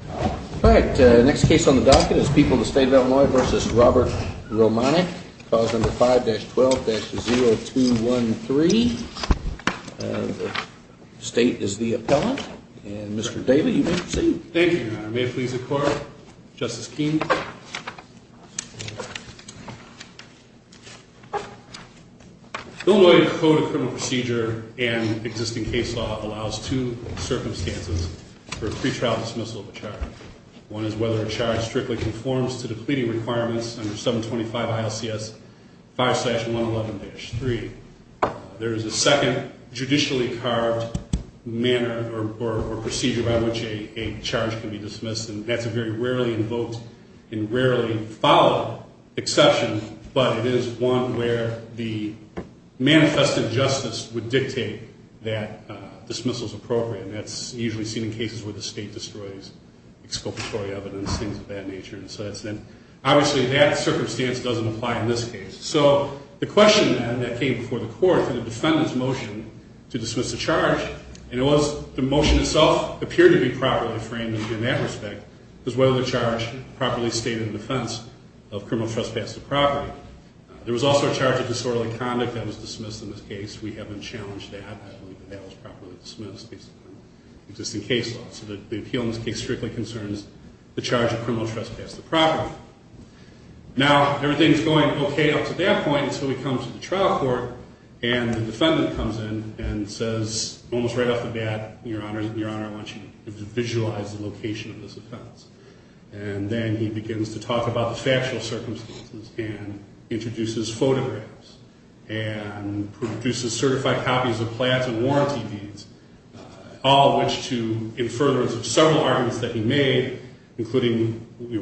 All right, the next case on the docket is People of the State of Illinois v. Robert Romanik, clause number 5-12-0213. The state is the appellant, and Mr. Daley, you may proceed. Thank you, Your Honor. May it please the Court, Justice Keene. Illinois Code of Criminal Procedure and existing case law allows two circumstances for a pretrial dismissal of a charge. One is whether a charge strictly conforms to the pleading requirements under 725 ILCS 5-111-3. There is a second, judicially carved manner or procedure by which a charge can be dismissed, and that's a very rarely invoked and rarely followed exception, but it is one where the manifested justice would dictate that dismissal is appropriate, and that's usually seen in cases where the state destroys exculpatory evidence, things of that nature. Obviously, that circumstance doesn't apply in this case. So the question then that came before the Court for the defendant's motion to dismiss the charge, and it was the motion itself appeared to be properly framed in that respect, was whether the charge properly stated in defense of criminal trespass to property. There was also a charge of disorderly conduct that was dismissed in this case. We haven't challenged that. I believe that that was properly dismissed based on existing case law. So the appeal in this case strictly concerns the charge of criminal trespass to property. Now, everything is going okay up to that point, and so we come to the trial court, and the defendant comes in and says almost right off the bat, Your Honor, I want you to visualize the location of this offense. And then he begins to talk about the factual circumstances and introduces photographs and produces certified copies of plans and warranty deeds, all of which to infer the several arguments that he made, including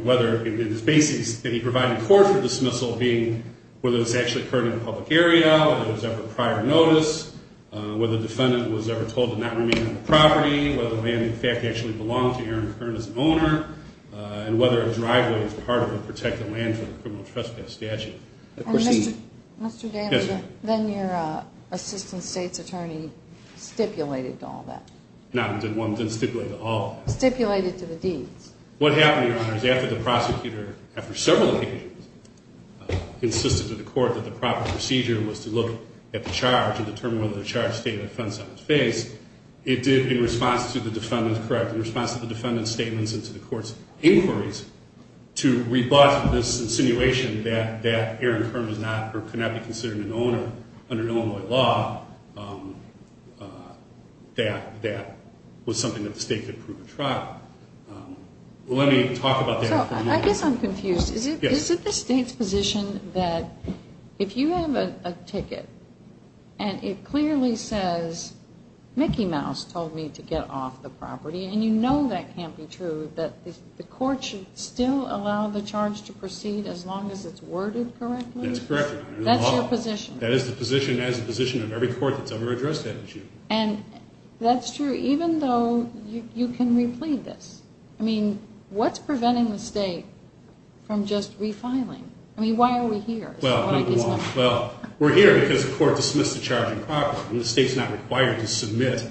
whether in his basis that he provided court for dismissal being whether this actually occurred in a public area, whether it was ever prior notice, whether the defendant was ever told to not remain on the property, whether the land, in fact, actually belonged to Aaron Kern as an owner, and whether a driveway was part of the protected land for the criminal trespass statute. And Mr. Danza, then your assistant state's attorney stipulated to all that. No, I didn't stipulate to all that. Stipulated to the deeds. What happened, Your Honor, is after the prosecutor, after several occasions, insisted to the court that the proper procedure was to look at the charge and determine whether the charge stated offense on its face, it did in response to the defendant's statements and to the court's inquiries to rebut this insinuation that Aaron Kern could not be considered an owner under Illinois law, that that was something that the state could prove at trial. Let me talk about that for a moment. I guess I'm confused. Is it the state's position that if you have a ticket and it clearly says, Mickey Mouse told me to get off the property, and you know that can't be true, that the court should still allow the charge to proceed as long as it's worded correctly? That's correct, Your Honor. That's your position. That is the position of every court that's ever addressed that issue. And that's true even though you can replete this. I mean, what's preventing the state from just refiling? I mean, why are we here? Well, we're here because the court dismissed the charge improperly, and the state's not required to submit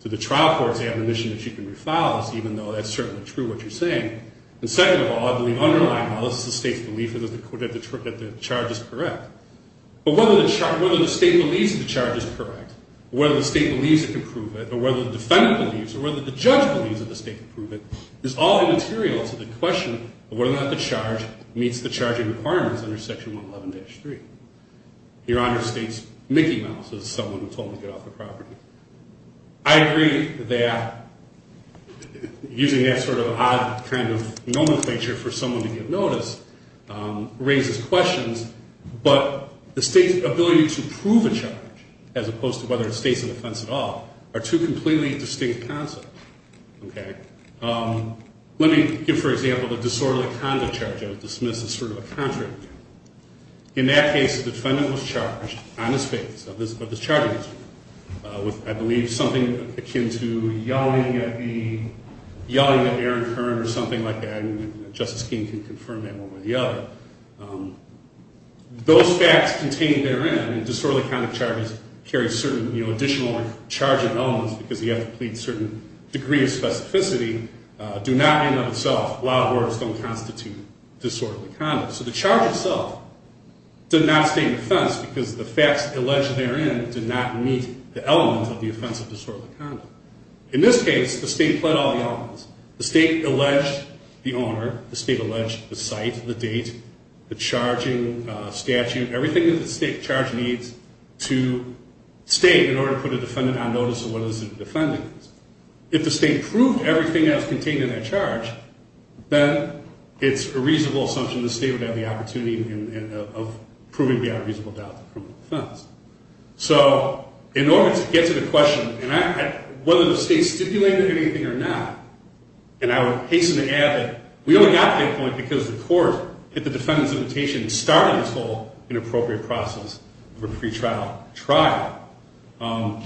to the trial court's admonition that you can refile, even though that's certainly true what you're saying. And second of all, I believe underlying law, this is the state's belief that the charge is correct. But whether the state believes the charge is correct, whether the state believes it can prove it, or whether the defendant believes it, or whether the judge believes that the state can prove it, is all immaterial to the question of whether or not the charge meets the charging requirements under Section 111-3. Your Honor states Mickey Mouse is someone who told me to get off the property. I agree that using that sort of odd kind of nomenclature for someone to get notice raises questions. But the state's ability to prove a charge, as opposed to whether it states an offense at all, are two completely distinct concepts. Okay? Let me give, for example, the disorderly conduct charge that was dismissed as sort of a contrary charge. In that case, the defendant was charged on his face of this charging issue with, I believe, something akin to yelling at Aaron Kern or something like that. Justice King can confirm that one way or the other. Those facts contained therein, disorderly conduct charges carry certain additional charging elements because you have to plead a certain degree of specificity, do not in and of themselves, a lot of words don't constitute disorderly conduct. So the charge itself did not state an offense because the facts alleged therein did not meet the elements of the offense of disorderly conduct. In this case, the state pled all the elements. The state alleged the owner. The state alleged the site, the date, the charging statute, everything that the state charge needs to state in order to put a defendant on notice of whether this is a defendant. If the state proved everything that was contained in that charge, then it's a reasonable assumption the state would have the opportunity of proving beyond reasonable doubt the criminal offense. So in order to get to the question, whether the state stipulated anything or not, and I would hasten to add that we only got to that point because the court, at the defendant's invitation, started this whole inappropriate process of a pretrial trial. Well,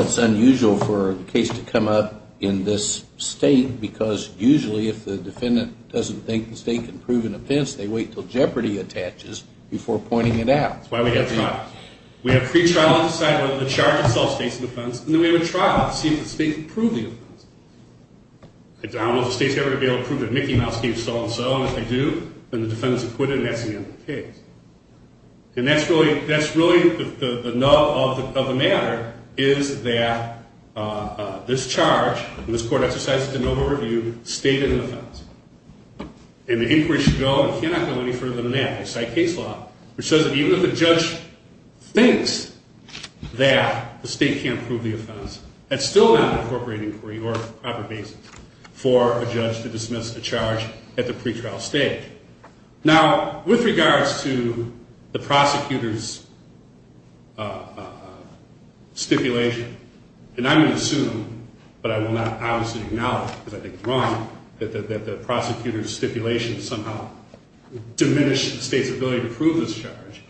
it's unusual for the case to come up in this state because usually if the defendant doesn't think the state can prove an offense, they wait until jeopardy attaches before pointing it out. That's why we have trials. We have a pretrial trial to decide whether the charge itself states an offense, and then we have a trial to see if the state can prove the offense. If the state's going to be able to prove that Mickey Mouse gave so-and-so, and if they do, then the defendant's acquitted, and that's the end of the case. And that's really the nub of the matter, is that this charge and this court exercise of de novo review stated an offense. And the inquiry should go, if you're not going to go any further than that, they cite case law, which says that even if a judge thinks that the state can't prove the offense, that's still not an appropriate inquiry or proper basis for a judge to dismiss a charge at the pretrial stage. Now, with regards to the prosecutor's stipulation, and I'm going to assume, but I will not obviously acknowledge because I think it's wrong, that the prosecutor's stipulation somehow diminished the state's ability to prove this charge.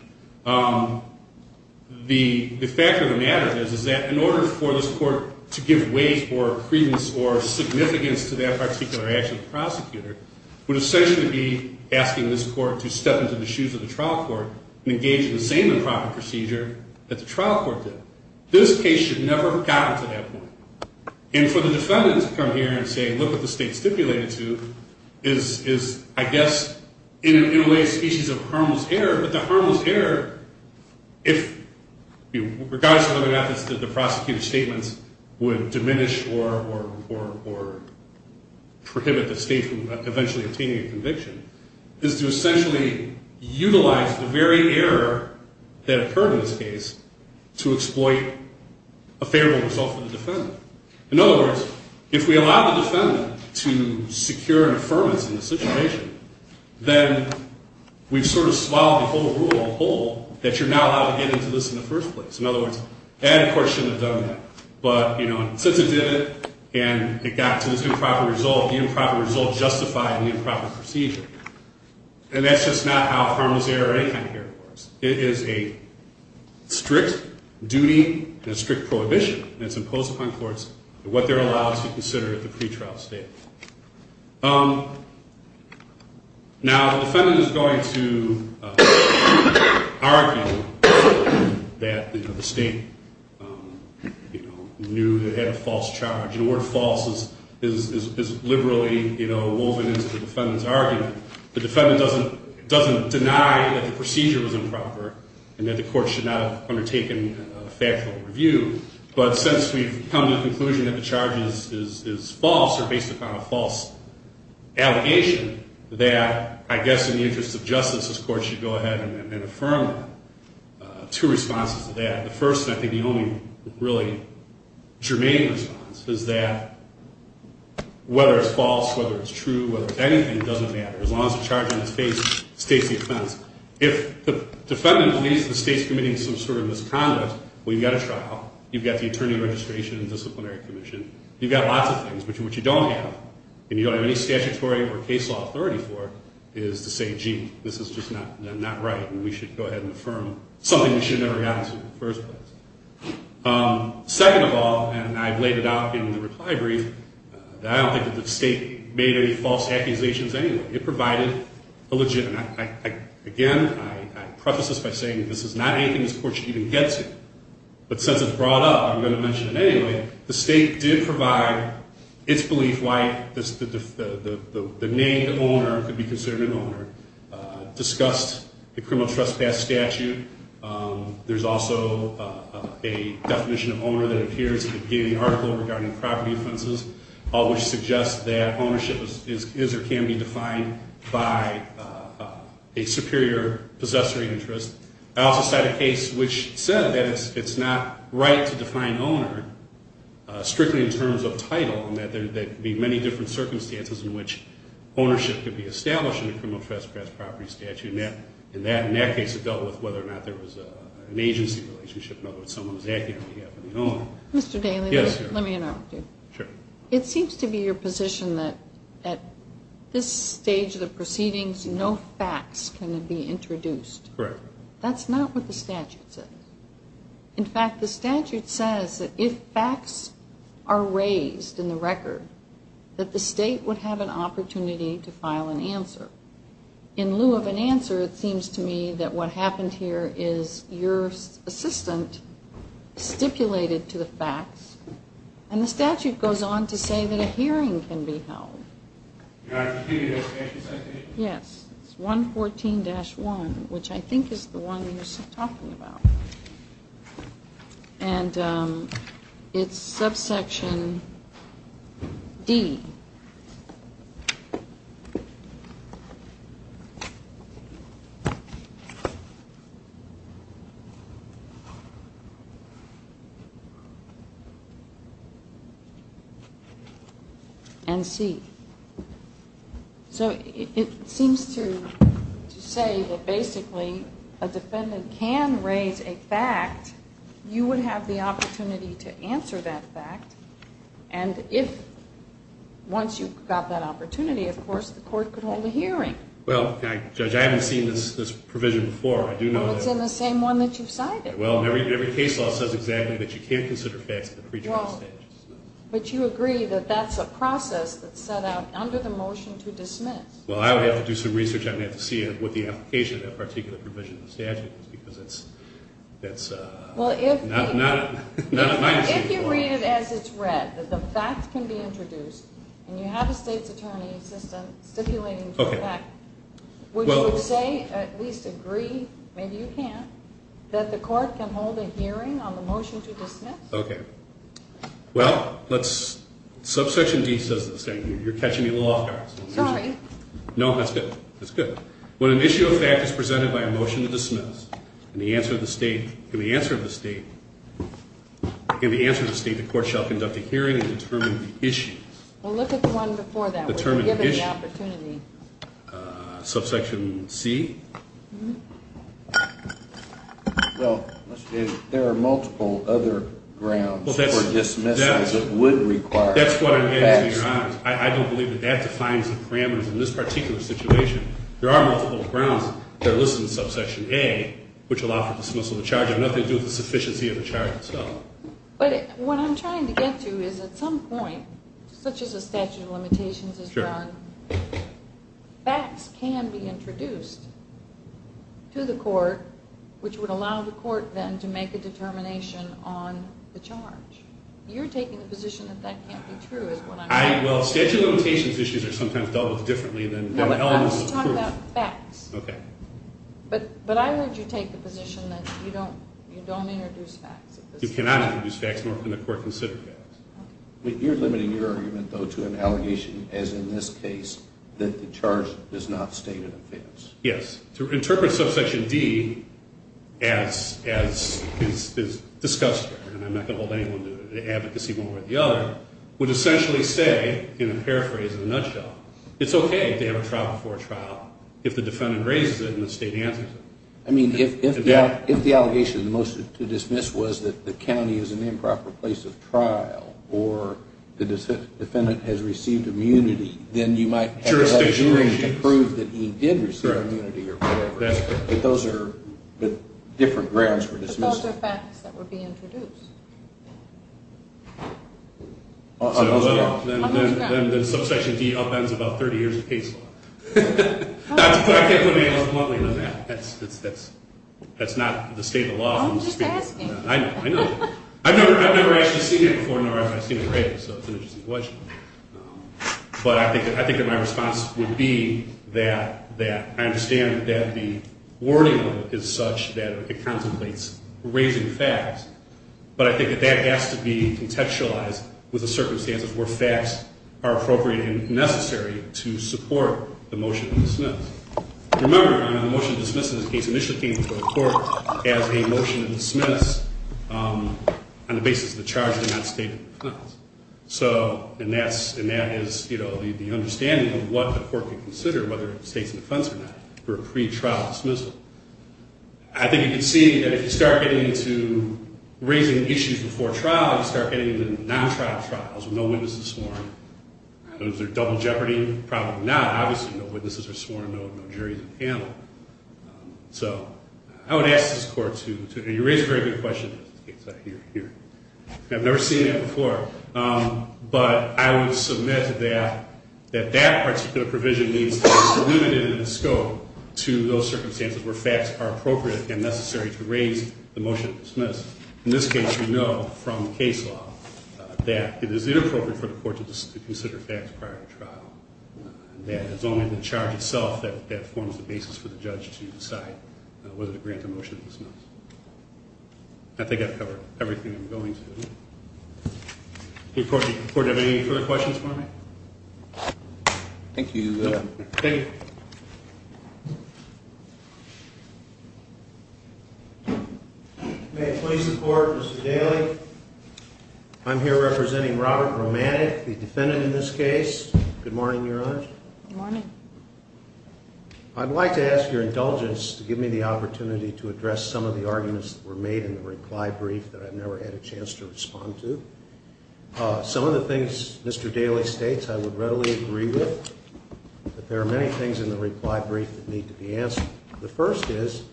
The fact of the matter is that in order for this court to give weight or credence or significance to that particular action of the prosecutor, would essentially be asking this court to step into the shoes of the trial court and engage in the same improper procedure that the trial court did. This case should never have gotten to that point. And for the defendant to come here and say, look what the state stipulated to, is, I guess, in a way a species of harmless error. But the harmless error, regardless of whether or not the prosecutor's statements would diminish or prohibit the state from eventually obtaining a conviction, is to essentially utilize the very error that occurred in this case to exploit a favorable result for the defendant. In other words, if we allow the defendant to secure an affirmance in this situation, then we've sort of swallowed the whole rule on the whole, that you're not allowed to get into this in the first place. In other words, that court shouldn't have done that. But since it did it and it got to this improper result, the improper result justified the improper procedure. And that's just not how harmless error or any kind of error works. It is a strict duty and a strict prohibition that's imposed upon courts and what they're allowed to consider at the pretrial stage. Now, the defendant is going to argue that the state knew it had a false charge. And the word false is liberally woven into the defendant's argument. The defendant doesn't deny that the procedure was improper and that the court should not have undertaken a factual review. But since we've come to the conclusion that the charge is false or based upon a false allegation, that I guess in the interest of justice this court should go ahead and affirm two responses to that. The first, and I think the only really germane response, is that whether it's false, whether it's true, whether it's anything, it doesn't matter as long as the charge on its face states the offense. If the defendant believes the state's committing some sort of misconduct, well, you've got a trial. You've got the Attorney Registration and Disciplinary Commission. You've got lots of things, but what you don't have, and you don't have any statutory or case law authority for, is to say, gee, this is just not right and we should go ahead and affirm something we should have never gotten to in the first place. Second of all, and I've laid it out in the reply brief, I don't think that the state made any false accusations anyway. It provided a legitimate, again, I preface this by saying this is not anything this court should even get to. But since it's brought up, I'm going to mention it anyway. The state did provide its belief why the named owner could be considered an owner, discussed the criminal trespass statute. There's also a definition of owner that appears in the article regarding property offenses, which suggests that ownership is or can be defined by a superior possessor interest. I also cite a case which said that it's not right to define owner strictly in terms of title and that there could be many different circumstances in which ownership could be established in a criminal trespass property statute. And in that case it dealt with whether or not there was an agency relationship, in other words, someone was acting on behalf of the owner. Mr. Daly, let me interrupt you. Sure. It seems to be your position that at this stage of the proceedings no facts can be introduced. Correct. That's not what the statute says. In fact, the statute says that if facts are raised in the record, that the state would have an opportunity to file an answer. In lieu of an answer, it seems to me that what happened here is your assistant stipulated to the facts and the statute goes on to say that a hearing can be held. Your Honor, can you give me the location citation? Yes. It's 114-1, which I think is the one you're talking about. And it's subsection D and C. So it seems to say that basically a defendant can raise a fact, you would have the opportunity to answer that fact, and once you've got that opportunity, of course, the court could hold a hearing. Well, Judge, I haven't seen this provision before. It's in the same one that you've cited. Well, and every case law says exactly that you can't consider facts at the pre-trial stage. But you agree that that's a process that's set out under the motion to dismiss. Well, I would have to do some research on that to see what the application of that particular provision in the statute is, because that's not my decision. If you read it as it's read, that the facts can be introduced, and you have a state's attorney assistant stipulating to the fact, would you say, at least agree, maybe you can, that the court can hold a hearing on the motion to dismiss? Okay. Well, let's, subsection D says the same thing. You're catching me a little off-guard. Sorry. No, that's good. That's good. When an issue of fact is presented by a motion to dismiss, and the answer of the state, the court shall conduct a hearing and determine the issue. Well, look at the one before that. Determine the issue. We're given the opportunity. Subsection C. Well, there are multiple other grounds for dismissal that would require facts. That's what I'm getting to, Your Honor. I don't believe that that defines the parameters in this particular situation. There are multiple grounds that are listed in subsection A, which allow for dismissal of the charge. They have nothing to do with the sufficiency of the charge itself. But what I'm trying to get to is at some point, such as a statute of limitations is done, facts can be introduced to the court, which would allow the court then to make a determination on the charge. You're taking the position that that can't be true is what I'm asking. Well, statute of limitations issues are sometimes dealt with differently than elements of proof. No, but I'm just talking about facts. Okay. But I heard you take the position that you don't introduce facts. You cannot introduce facts, nor can the court consider facts. You're limiting your argument, though, to an allegation, as in this case, that the charge does not state an offense. Yes. To interpret subsection D as is discussed here, and I'm not going to hold anyone to advocacy one way or the other, would essentially say, in a paraphrase, in a nutshell, it's okay if they have a trial before a trial if the defendant raises it and the state answers it. I mean, if the allegation to dismiss was that the county is an improper place of trial or the defendant has received immunity, then you might have a jury to prove that he did receive immunity or whatever. That's correct. But those are different grounds for dismissal. But those are facts that would be introduced. Then subsection D upends about 30 years of case law. I can't put my hand up bluntly on that. That's not the state of the law. I'm just asking. I know. I've never actually seen it before, nor have I seen it raised, so it's an interesting question. But I think that my response would be that I understand that the wording is such that it contemplates raising facts, but I think that that has to be contextualized with the circumstances where facts are appropriate and necessary to support the motion to dismiss. Remember, the motion to dismiss in this case initially came before the court as a motion to dismiss on the basis of the charge of non-statement of defense. And that is the understanding of what the court could consider, whether it's state's defense or not, for a pretrial dismissal. I think you can see that if you start getting into raising issues before trial, you start getting into non-trial trials with no witnesses sworn. Is there double jeopardy? Probably not. Obviously, no witnesses are sworn, no juries are paneled. So I would ask this court to raise a very good question. I've never seen that before. But I would submit that that particular provision needs to be delimited in the scope to those circumstances where facts are appropriate and necessary to raise the motion to dismiss. In this case, we know from case law that it is inappropriate for the court to consider facts prior to trial, and that it's only the charge itself that forms the basis for the judge to decide whether to grant the motion to dismiss. I think I've covered everything I'm going to. Okay, court, do you have any further questions for me? Thank you. Thank you. Thank you. May it please the court, Mr. Daly, I'm here representing Robert Romatic, the defendant in this case. Good morning, Your Honor. Good morning. I'd like to ask your indulgence to give me the opportunity to address some of the arguments that were made in the reply brief that I've never had a chance to respond to. Some of the things Mr. Daly states I would readily agree with, but there are many things in the reply brief that need to be answered. The first is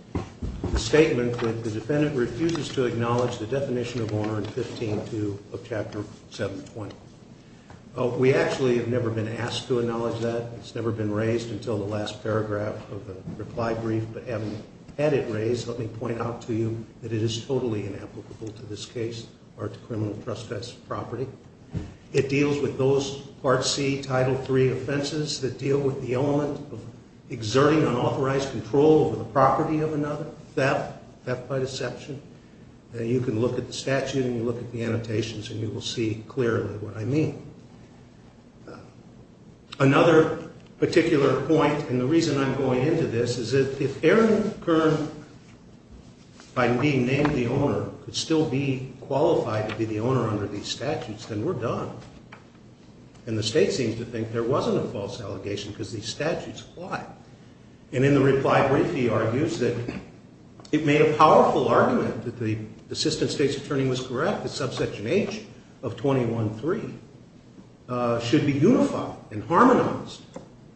the statement that the defendant refuses to acknowledge the definition of honor in 15.2 of Chapter 720. We actually have never been asked to acknowledge that. It's never been raised until the last paragraph of the reply brief, but having had it raised, let me point out to you that it is totally inapplicable to this case or to criminal trespass property. It deals with those Part C, Title III offenses that deal with the element of exerting unauthorized control over the property of another, theft, theft by deception. You can look at the statute and you can look at the annotations and you will see clearly what I mean. Another particular point, and the reason I'm going into this, is that if Aaron Kern, by being named the owner, could still be qualified to be the owner under these statutes, then we're done. And the state seems to think there wasn't a false allegation because these statutes apply. And in the reply brief, he argues that it made a powerful argument that the assistant state's attorney was correct that Subsection H of 21-3 should be unified and harmonized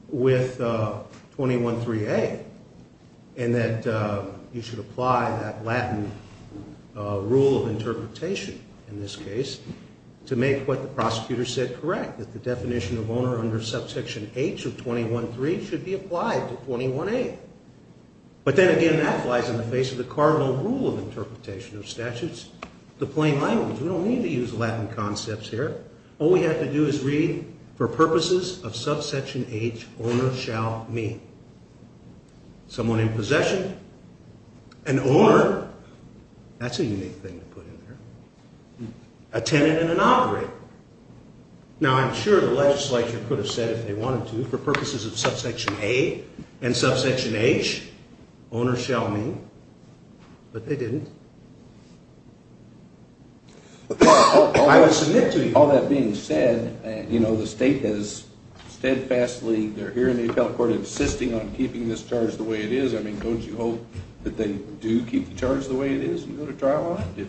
with 21-3A, and that you should apply that Latin rule of interpretation in this case to make what the prosecutor said correct, that the definition of owner under Subsection H of 21-3 should be applied to 21-A. But then again, that flies in the face of the cardinal rule of interpretation of statutes, the plain language. We don't need to use Latin concepts here. All we have to do is read, for purposes of Subsection H, owner shall mean someone in possession, an owner, that's a unique thing to put in there, a tenant and an operator. Now, I'm sure the legislature could have said if they wanted to, for purposes of Subsection A and Subsection H, owner shall mean, but they didn't. I will submit to you, all that being said, you know, the state has steadfastly, they're here in the appellate court insisting on keeping this charge the way it is. I mean, don't you hope that they do keep the charge the way it is and go to trial on it?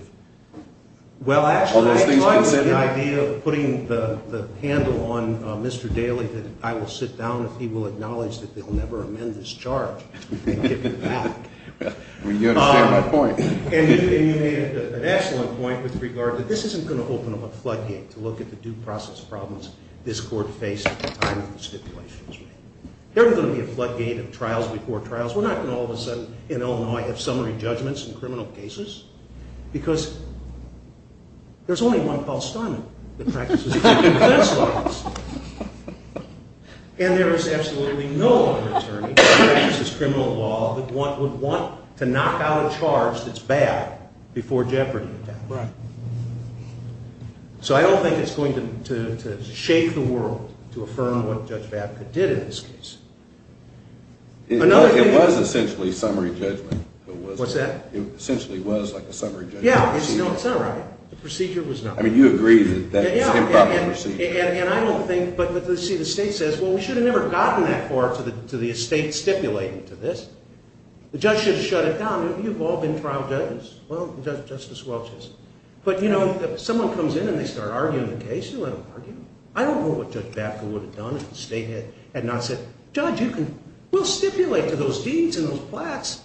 Well, actually, I thought it was the idea of putting the handle on Mr. Daley that I will sit down if he will acknowledge that they'll never amend this charge and give it back. I mean, you understand my point. And you made an excellent point with regard that this isn't going to open up a floodgate to look at the due process problems this court faced at the time of the stipulations. There are going to be a floodgate of trials before trials. We're not going to all of a sudden in Illinois have summary judgments in criminal cases because there's only one Paul Steinman that practices criminal defense laws. And there is absolutely no other attorney that practices criminal law that would want to knock out a charge that's bad before jeopardy. Right. So I don't think it's going to shake the world to affirm what Judge Babcock did in this case. It was essentially summary judgment. What's that? It essentially was like a summary judgment. Yeah. No, it's not a summary. The procedure was not. I mean, you agree that it's an improper procedure. Yeah, and I don't think, but see, the state says, well, we should have never gotten that far to the estate stipulating to this. The judge should have shut it down. You've all been trial judges. Well, Justice Welch has. But, you know, if someone comes in and they start arguing the case, you let them argue. I don't know what Judge Babcock would have done if the state had not said, Judge, we'll stipulate to those deeds and those plaques,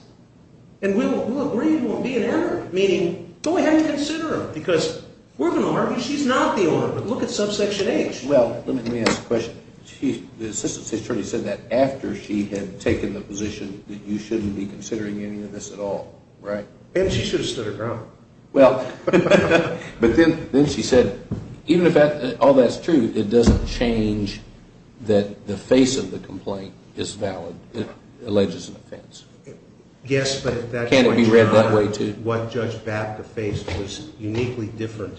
and we'll agree it won't be an error, meaning go ahead and consider them, because we're going to argue she's not the owner. Look at subsection H. Well, let me ask a question. The assistant state attorney said that after she had taken the position that you shouldn't be considering any of this at all, right? And she should have stood her ground. Well, but then she said, even if all that's true, it doesn't change that the face of the complaint is valid. It alleges an offense. Yes, but at that point in time, what Judge Babcock faced was uniquely different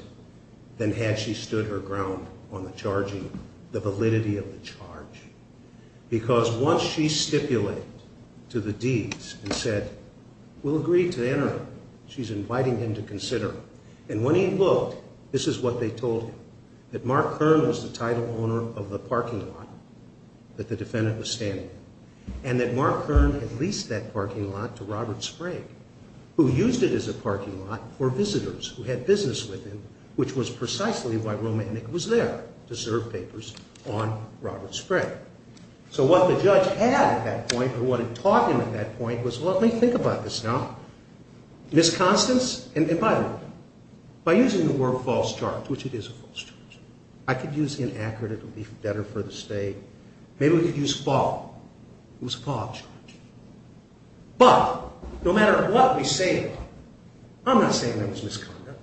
than had she stood her ground on the validity of the charge. Because once she stipulated to the deeds and said, we'll agree to the error, she's inviting him to consider. And when he looked, this is what they told him, that Mark Kern was the title owner of the parking lot that the defendant was standing in, and that Mark Kern had leased that parking lot to Robert Sprague, who used it as a parking lot for visitors who had business with him, which was precisely why Romantic was there to serve papers on Robert Sprague. So what the judge had at that point, or what it taught him at that point, was, well, let me think about this now. Ms. Constance, and by the way, by using the word false charge, which it is a false charge, I could use inaccurate, it would be better for the state. Maybe we could use false. It was a false charge. But no matter what we say about it, I'm not saying it was misconduct.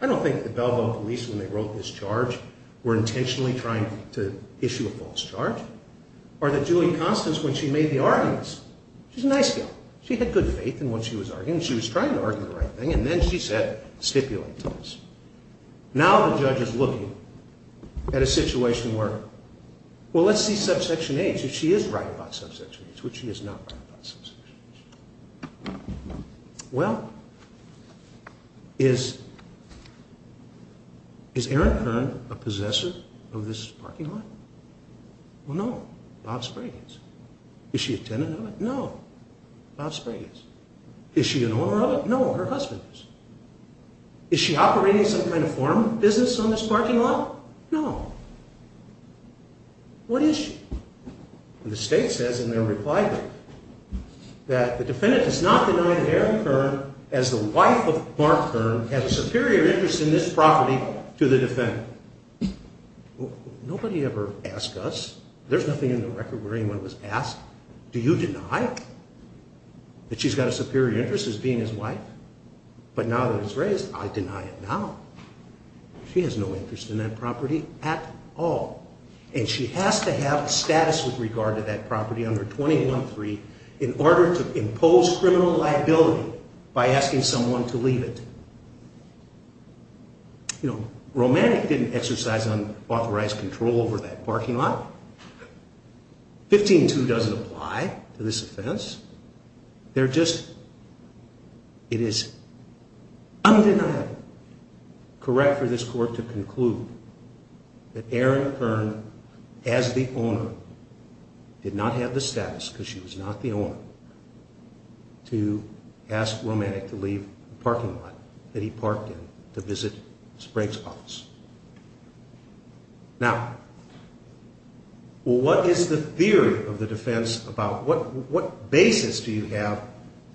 I don't think the Belleville police, when they wrote this charge, were intentionally trying to issue a false charge, or that Julie Constance, when she made the arguments, she's a nice girl, she had good faith in what she was arguing, she was trying to argue the right thing, and then she said stipulate to us. Now the judge is looking at a situation where, well, let's see subsection H, if she is right about subsection H, which she is not right about subsection H. Well, is Aaron Kern a possessor of this parking lot? No. Well, no. Bob Sprague is. Is she a tenant of it? No. Bob Sprague is. Is she an owner of it? No. Her husband is. Is she operating some kind of farm business on this parking lot? No. What is she? And the state says in their reply that the defendant does not deny that Aaron Kern, as the wife of Mark Kern, has a superior interest in this property to the defendant. Nobody ever asked us, there's nothing in the record where anyone was asked, do you deny that she's got a superior interest as being his wife? But now that it's raised, I deny it now. She has no interest in that property at all. And she has to have a status with regard to that property under 21-3 in order to impose criminal liability by asking someone to leave it. You know, Romantic didn't exercise unauthorized control over that parking lot. 15-2 doesn't apply to this offense. They're just, it is undeniable correct for this court to conclude that Aaron Kern, as the owner, did not have the status, because she was not the owner, to ask Romantic to leave the parking lot that he parked in to visit Sprague's office. Now, what is the theory of the defense about? What basis do you have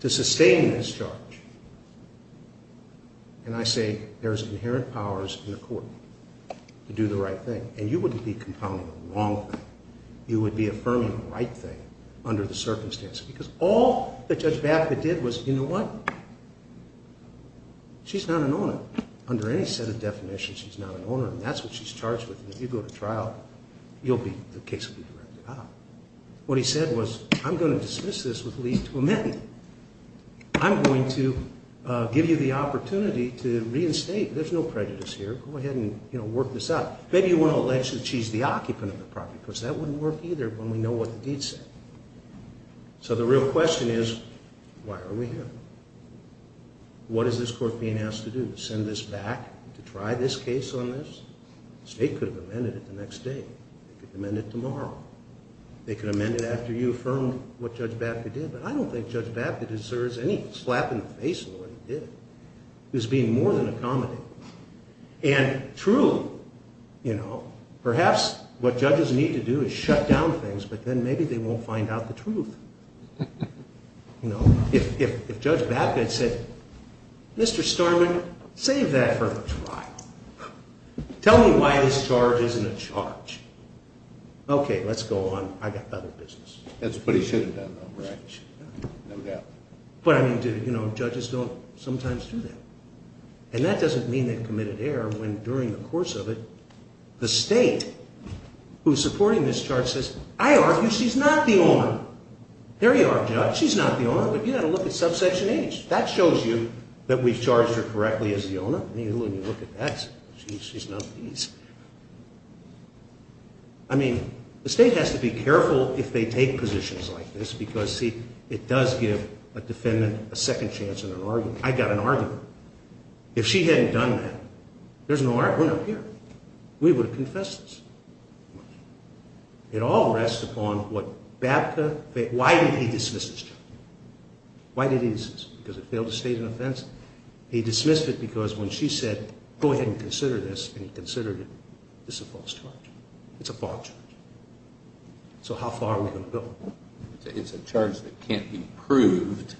to sustain this charge? And I say there's inherent powers in the court to do the right thing. And you wouldn't be compounding the wrong thing. You would be affirming the right thing under the circumstances, because all that Judge Baffitt did was, you know what, she's not an owner. Under any set of definitions, she's not an owner, and that's what she's charged with. And if you go to trial, the case will be directed out. What he said was, I'm going to dismiss this with least to amend. I'm going to give you the opportunity to reinstate. There's no prejudice here. Go ahead and work this out. Maybe you want to allege that she's the occupant of the property, because that wouldn't work either when we know what the deed said. So the real question is, why are we here? What is this court being asked to do, to send this back, to try this case on this? The state could have amended it the next day. They could amend it tomorrow. They could amend it after you affirmed what Judge Baffitt did. But I don't think Judge Baffitt deserves any slap in the face for what he did. He was being more than accommodating. And true, perhaps what judges need to do is shut down things, but then maybe they won't find out the truth. If Judge Baffitt said, Mr. Starman, save that for the trial. Tell me why this charge isn't a charge. Okay, let's go on. I've got other business. That's what he should have done, though, right? No doubt. But judges don't sometimes do that. And that doesn't mean they've committed error when, during the course of it, the state who's supporting this charge says, I argue she's not the owner. There you are, Judge. She's not the owner, but you've got to look at subsection H. That shows you that we've charged her correctly as the owner. I mean, look at that. She's not the owner. I mean, the state has to be careful if they take positions like this, because, see, it does give a defendant a second chance in an argument. I got an argument. If she hadn't done that, there's no argument up here. We would have confessed this. It all rests upon what Bapka – why did he dismiss this charge? Why did he dismiss it? Because it failed to state an offense? He dismissed it because when she said, go ahead and consider this, and he considered it, this is a false charge. It's a false charge. So how far are we going to go? It's a charge that can't be proved,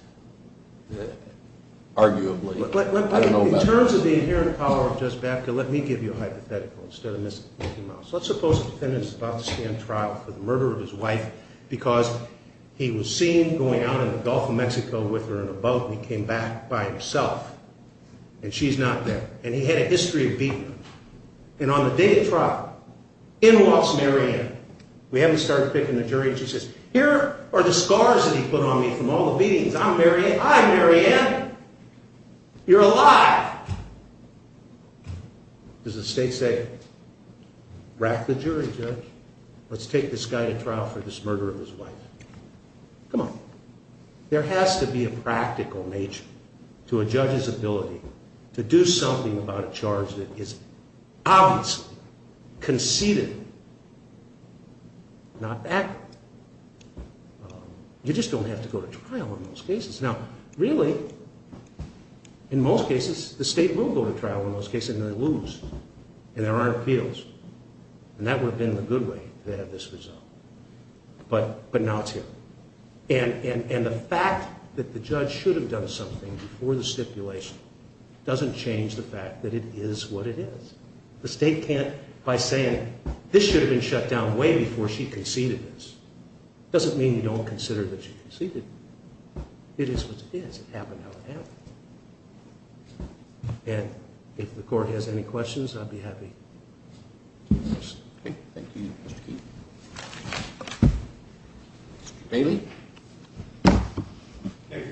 arguably. In terms of the inherent power of Judge Bapka, let me give you a hypothetical. Let's suppose the defendant is about to stand trial for the murder of his wife because he was seen going out in the Gulf of Mexico with her in a boat, and he came back by himself, and she's not there. And he had a history of beating her. And on the day of trial, in Watts, Mary Ann, we haven't started picking the jury, she says, here are the scars that he put on me from all the beatings. I'm Mary Ann. Hi, Mary Ann. You're alive. Does the state say, wrack the jury, Judge. Let's take this guy to trial for this murder of his wife. Come on. There has to be a practical nature to a judge's ability to do something about a charge that is obviously conceded. Not that. You just don't have to go to trial in most cases. Now, really, in most cases, the state will go to trial in most cases, and they lose, and there aren't appeals. And that would have been the good way to have this resolved. But now it's here. And the fact that the judge should have done something before the stipulation doesn't change the fact that it is what it is. The state can't, by saying, this should have been shut down way before she conceded this, doesn't mean you don't consider that she conceded. It is what it is. It happened how it happened. And if the court has any questions, I'd be happy to address them. Thank you, Mr. Keene. Mr. Bailey. Thank you, Your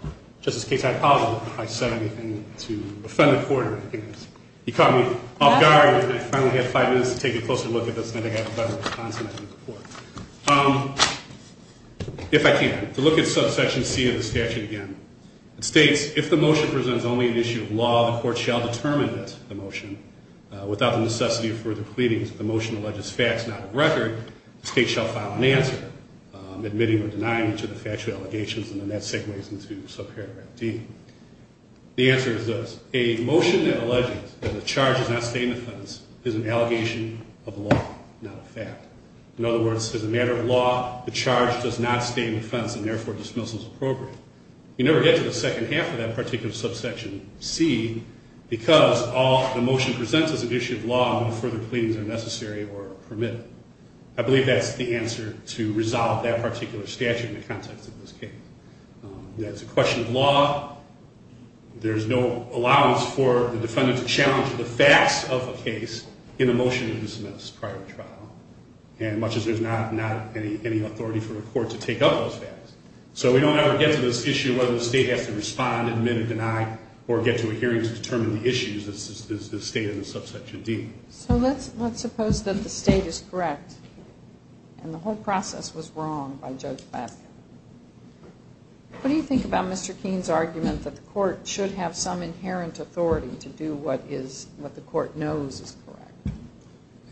Honor. Just in case, I apologize if I said anything to offend the court or anything else. You caught me off guard. I finally had five minutes to take a closer look at this, and I think I have a better response than I did before. If I can, to look at subsection C of the statute again. It states, if the motion presents only an issue of law, the court shall determine that the motion, without the necessity of further pleadings, if the motion alleges facts not of record, the state shall file an answer, admitting or denying each of the factual allegations, and then that segues into subparagraph D. The answer is this. A motion that alleges that the charge does not stay in the defense is an allegation of law, not a fact. In other words, as a matter of law, the charge does not stay in defense and, therefore, dismissal is appropriate. You never get to the second half of that particular subsection C because the motion presents as an issue of law and no further pleadings are necessary or permitted. I believe that's the answer to resolve that particular statute in the context of this case. That's a question of law. There's no allowance for the defendant to challenge the facts of a case in the motion that he submits prior to trial, much as there's not any authority for a court to take up those facts. So we don't ever get to this issue of whether the state has to respond, admit or deny, or get to a hearing to determine the issues as stated in subsection D. So let's suppose that the state is correct and the whole process was wrong by Judge Baskin. What do you think about Mr. Keene's argument that the court should have some inherent authority to do what the court knows is correct?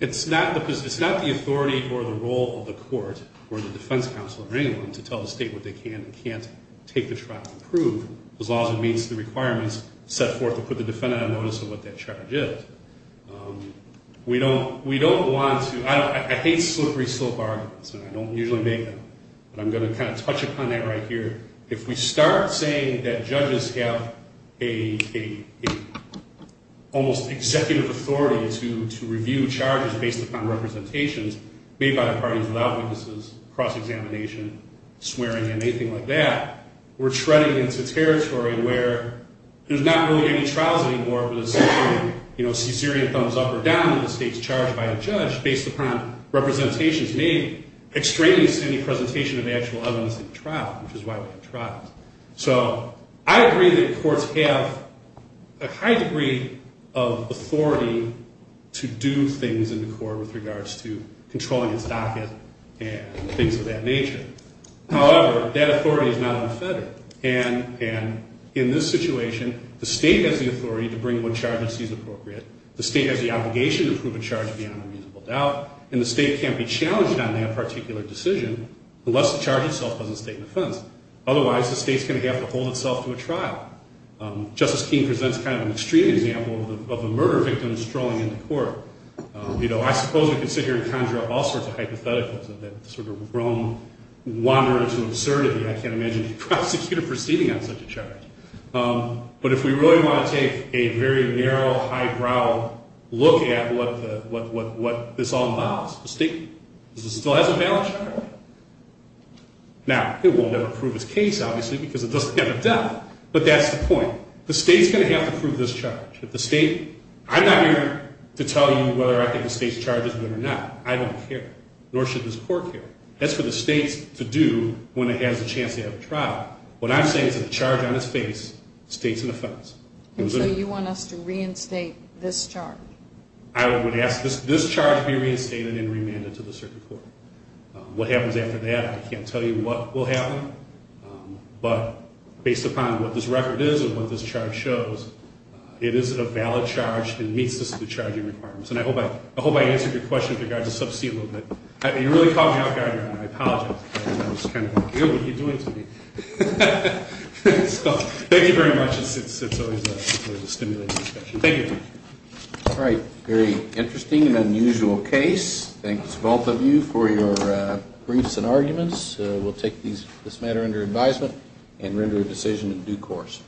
It's not the authority or the role of the court or the defense counsel or anyone to tell the state what they can and can't take the trial to prove. As long as it meets the requirements set forth or put the defendant on notice of what that charge is. We don't want to – I hate slippery slope arguments and I don't usually make them, but I'm going to kind of touch upon that right here. If we start saying that judges have an almost executive authority to review charges based upon representations made by the parties without witnesses, cross-examination, swearing and anything like that, we're treading into territory where there's not really any trials anymore where there's essentially a caesarean thumbs up or down when the state's charged by a judge based upon representations made, extraneous to any presentation of actual evidence at the trial, which is why we have trials. So I agree that courts have a high degree of authority to do things in the court with regards to controlling its docket and things of that nature. However, that authority is not unfettered. And in this situation, the state has the authority to bring what charge it sees appropriate. The state has the obligation to prove a charge beyond a reasonable doubt, and the state can't be challenged on that particular decision unless the charge itself was in state defense. Otherwise, the state's going to have to hold itself to a trial. Justice King presents kind of an extreme example of a murder victim strolling into court. I suppose we could sit here and conjure up all sorts of hypotheticals of that sort of roam wanderer sort of absurdity. I can't imagine a prosecutor proceeding on such a charge. But if we really want to take a very narrow, high-brow look at what this all involves, the state still has a valid charge. Now, it will never prove its case, obviously, because it doesn't have a doubt, but that's the point. The state's going to have to prove this charge. I'm not here to tell you whether I think the state's charge is good or not. I don't care, nor should this court care. That's for the state to do when it has a chance to have a trial. What I'm saying is that the charge on its face states an offense. And so you want us to reinstate this charge? I would ask this charge be reinstated and remanded to the circuit court. What happens after that, I can't tell you what will happen, but based upon what this record is and what this charge shows, it is a valid charge and meets the charging requirements. And I hope I answered your question with regard to sub C a little bit. You really caught me off guard, Your Honor. I apologize. I was kind of like, what are you doing to me? So thank you very much. It's always a stimulating discussion. Thank you. All right. Very interesting and unusual case. Thanks, both of you, for your briefs and arguments. We'll take this matter under advisement and render a decision in due course.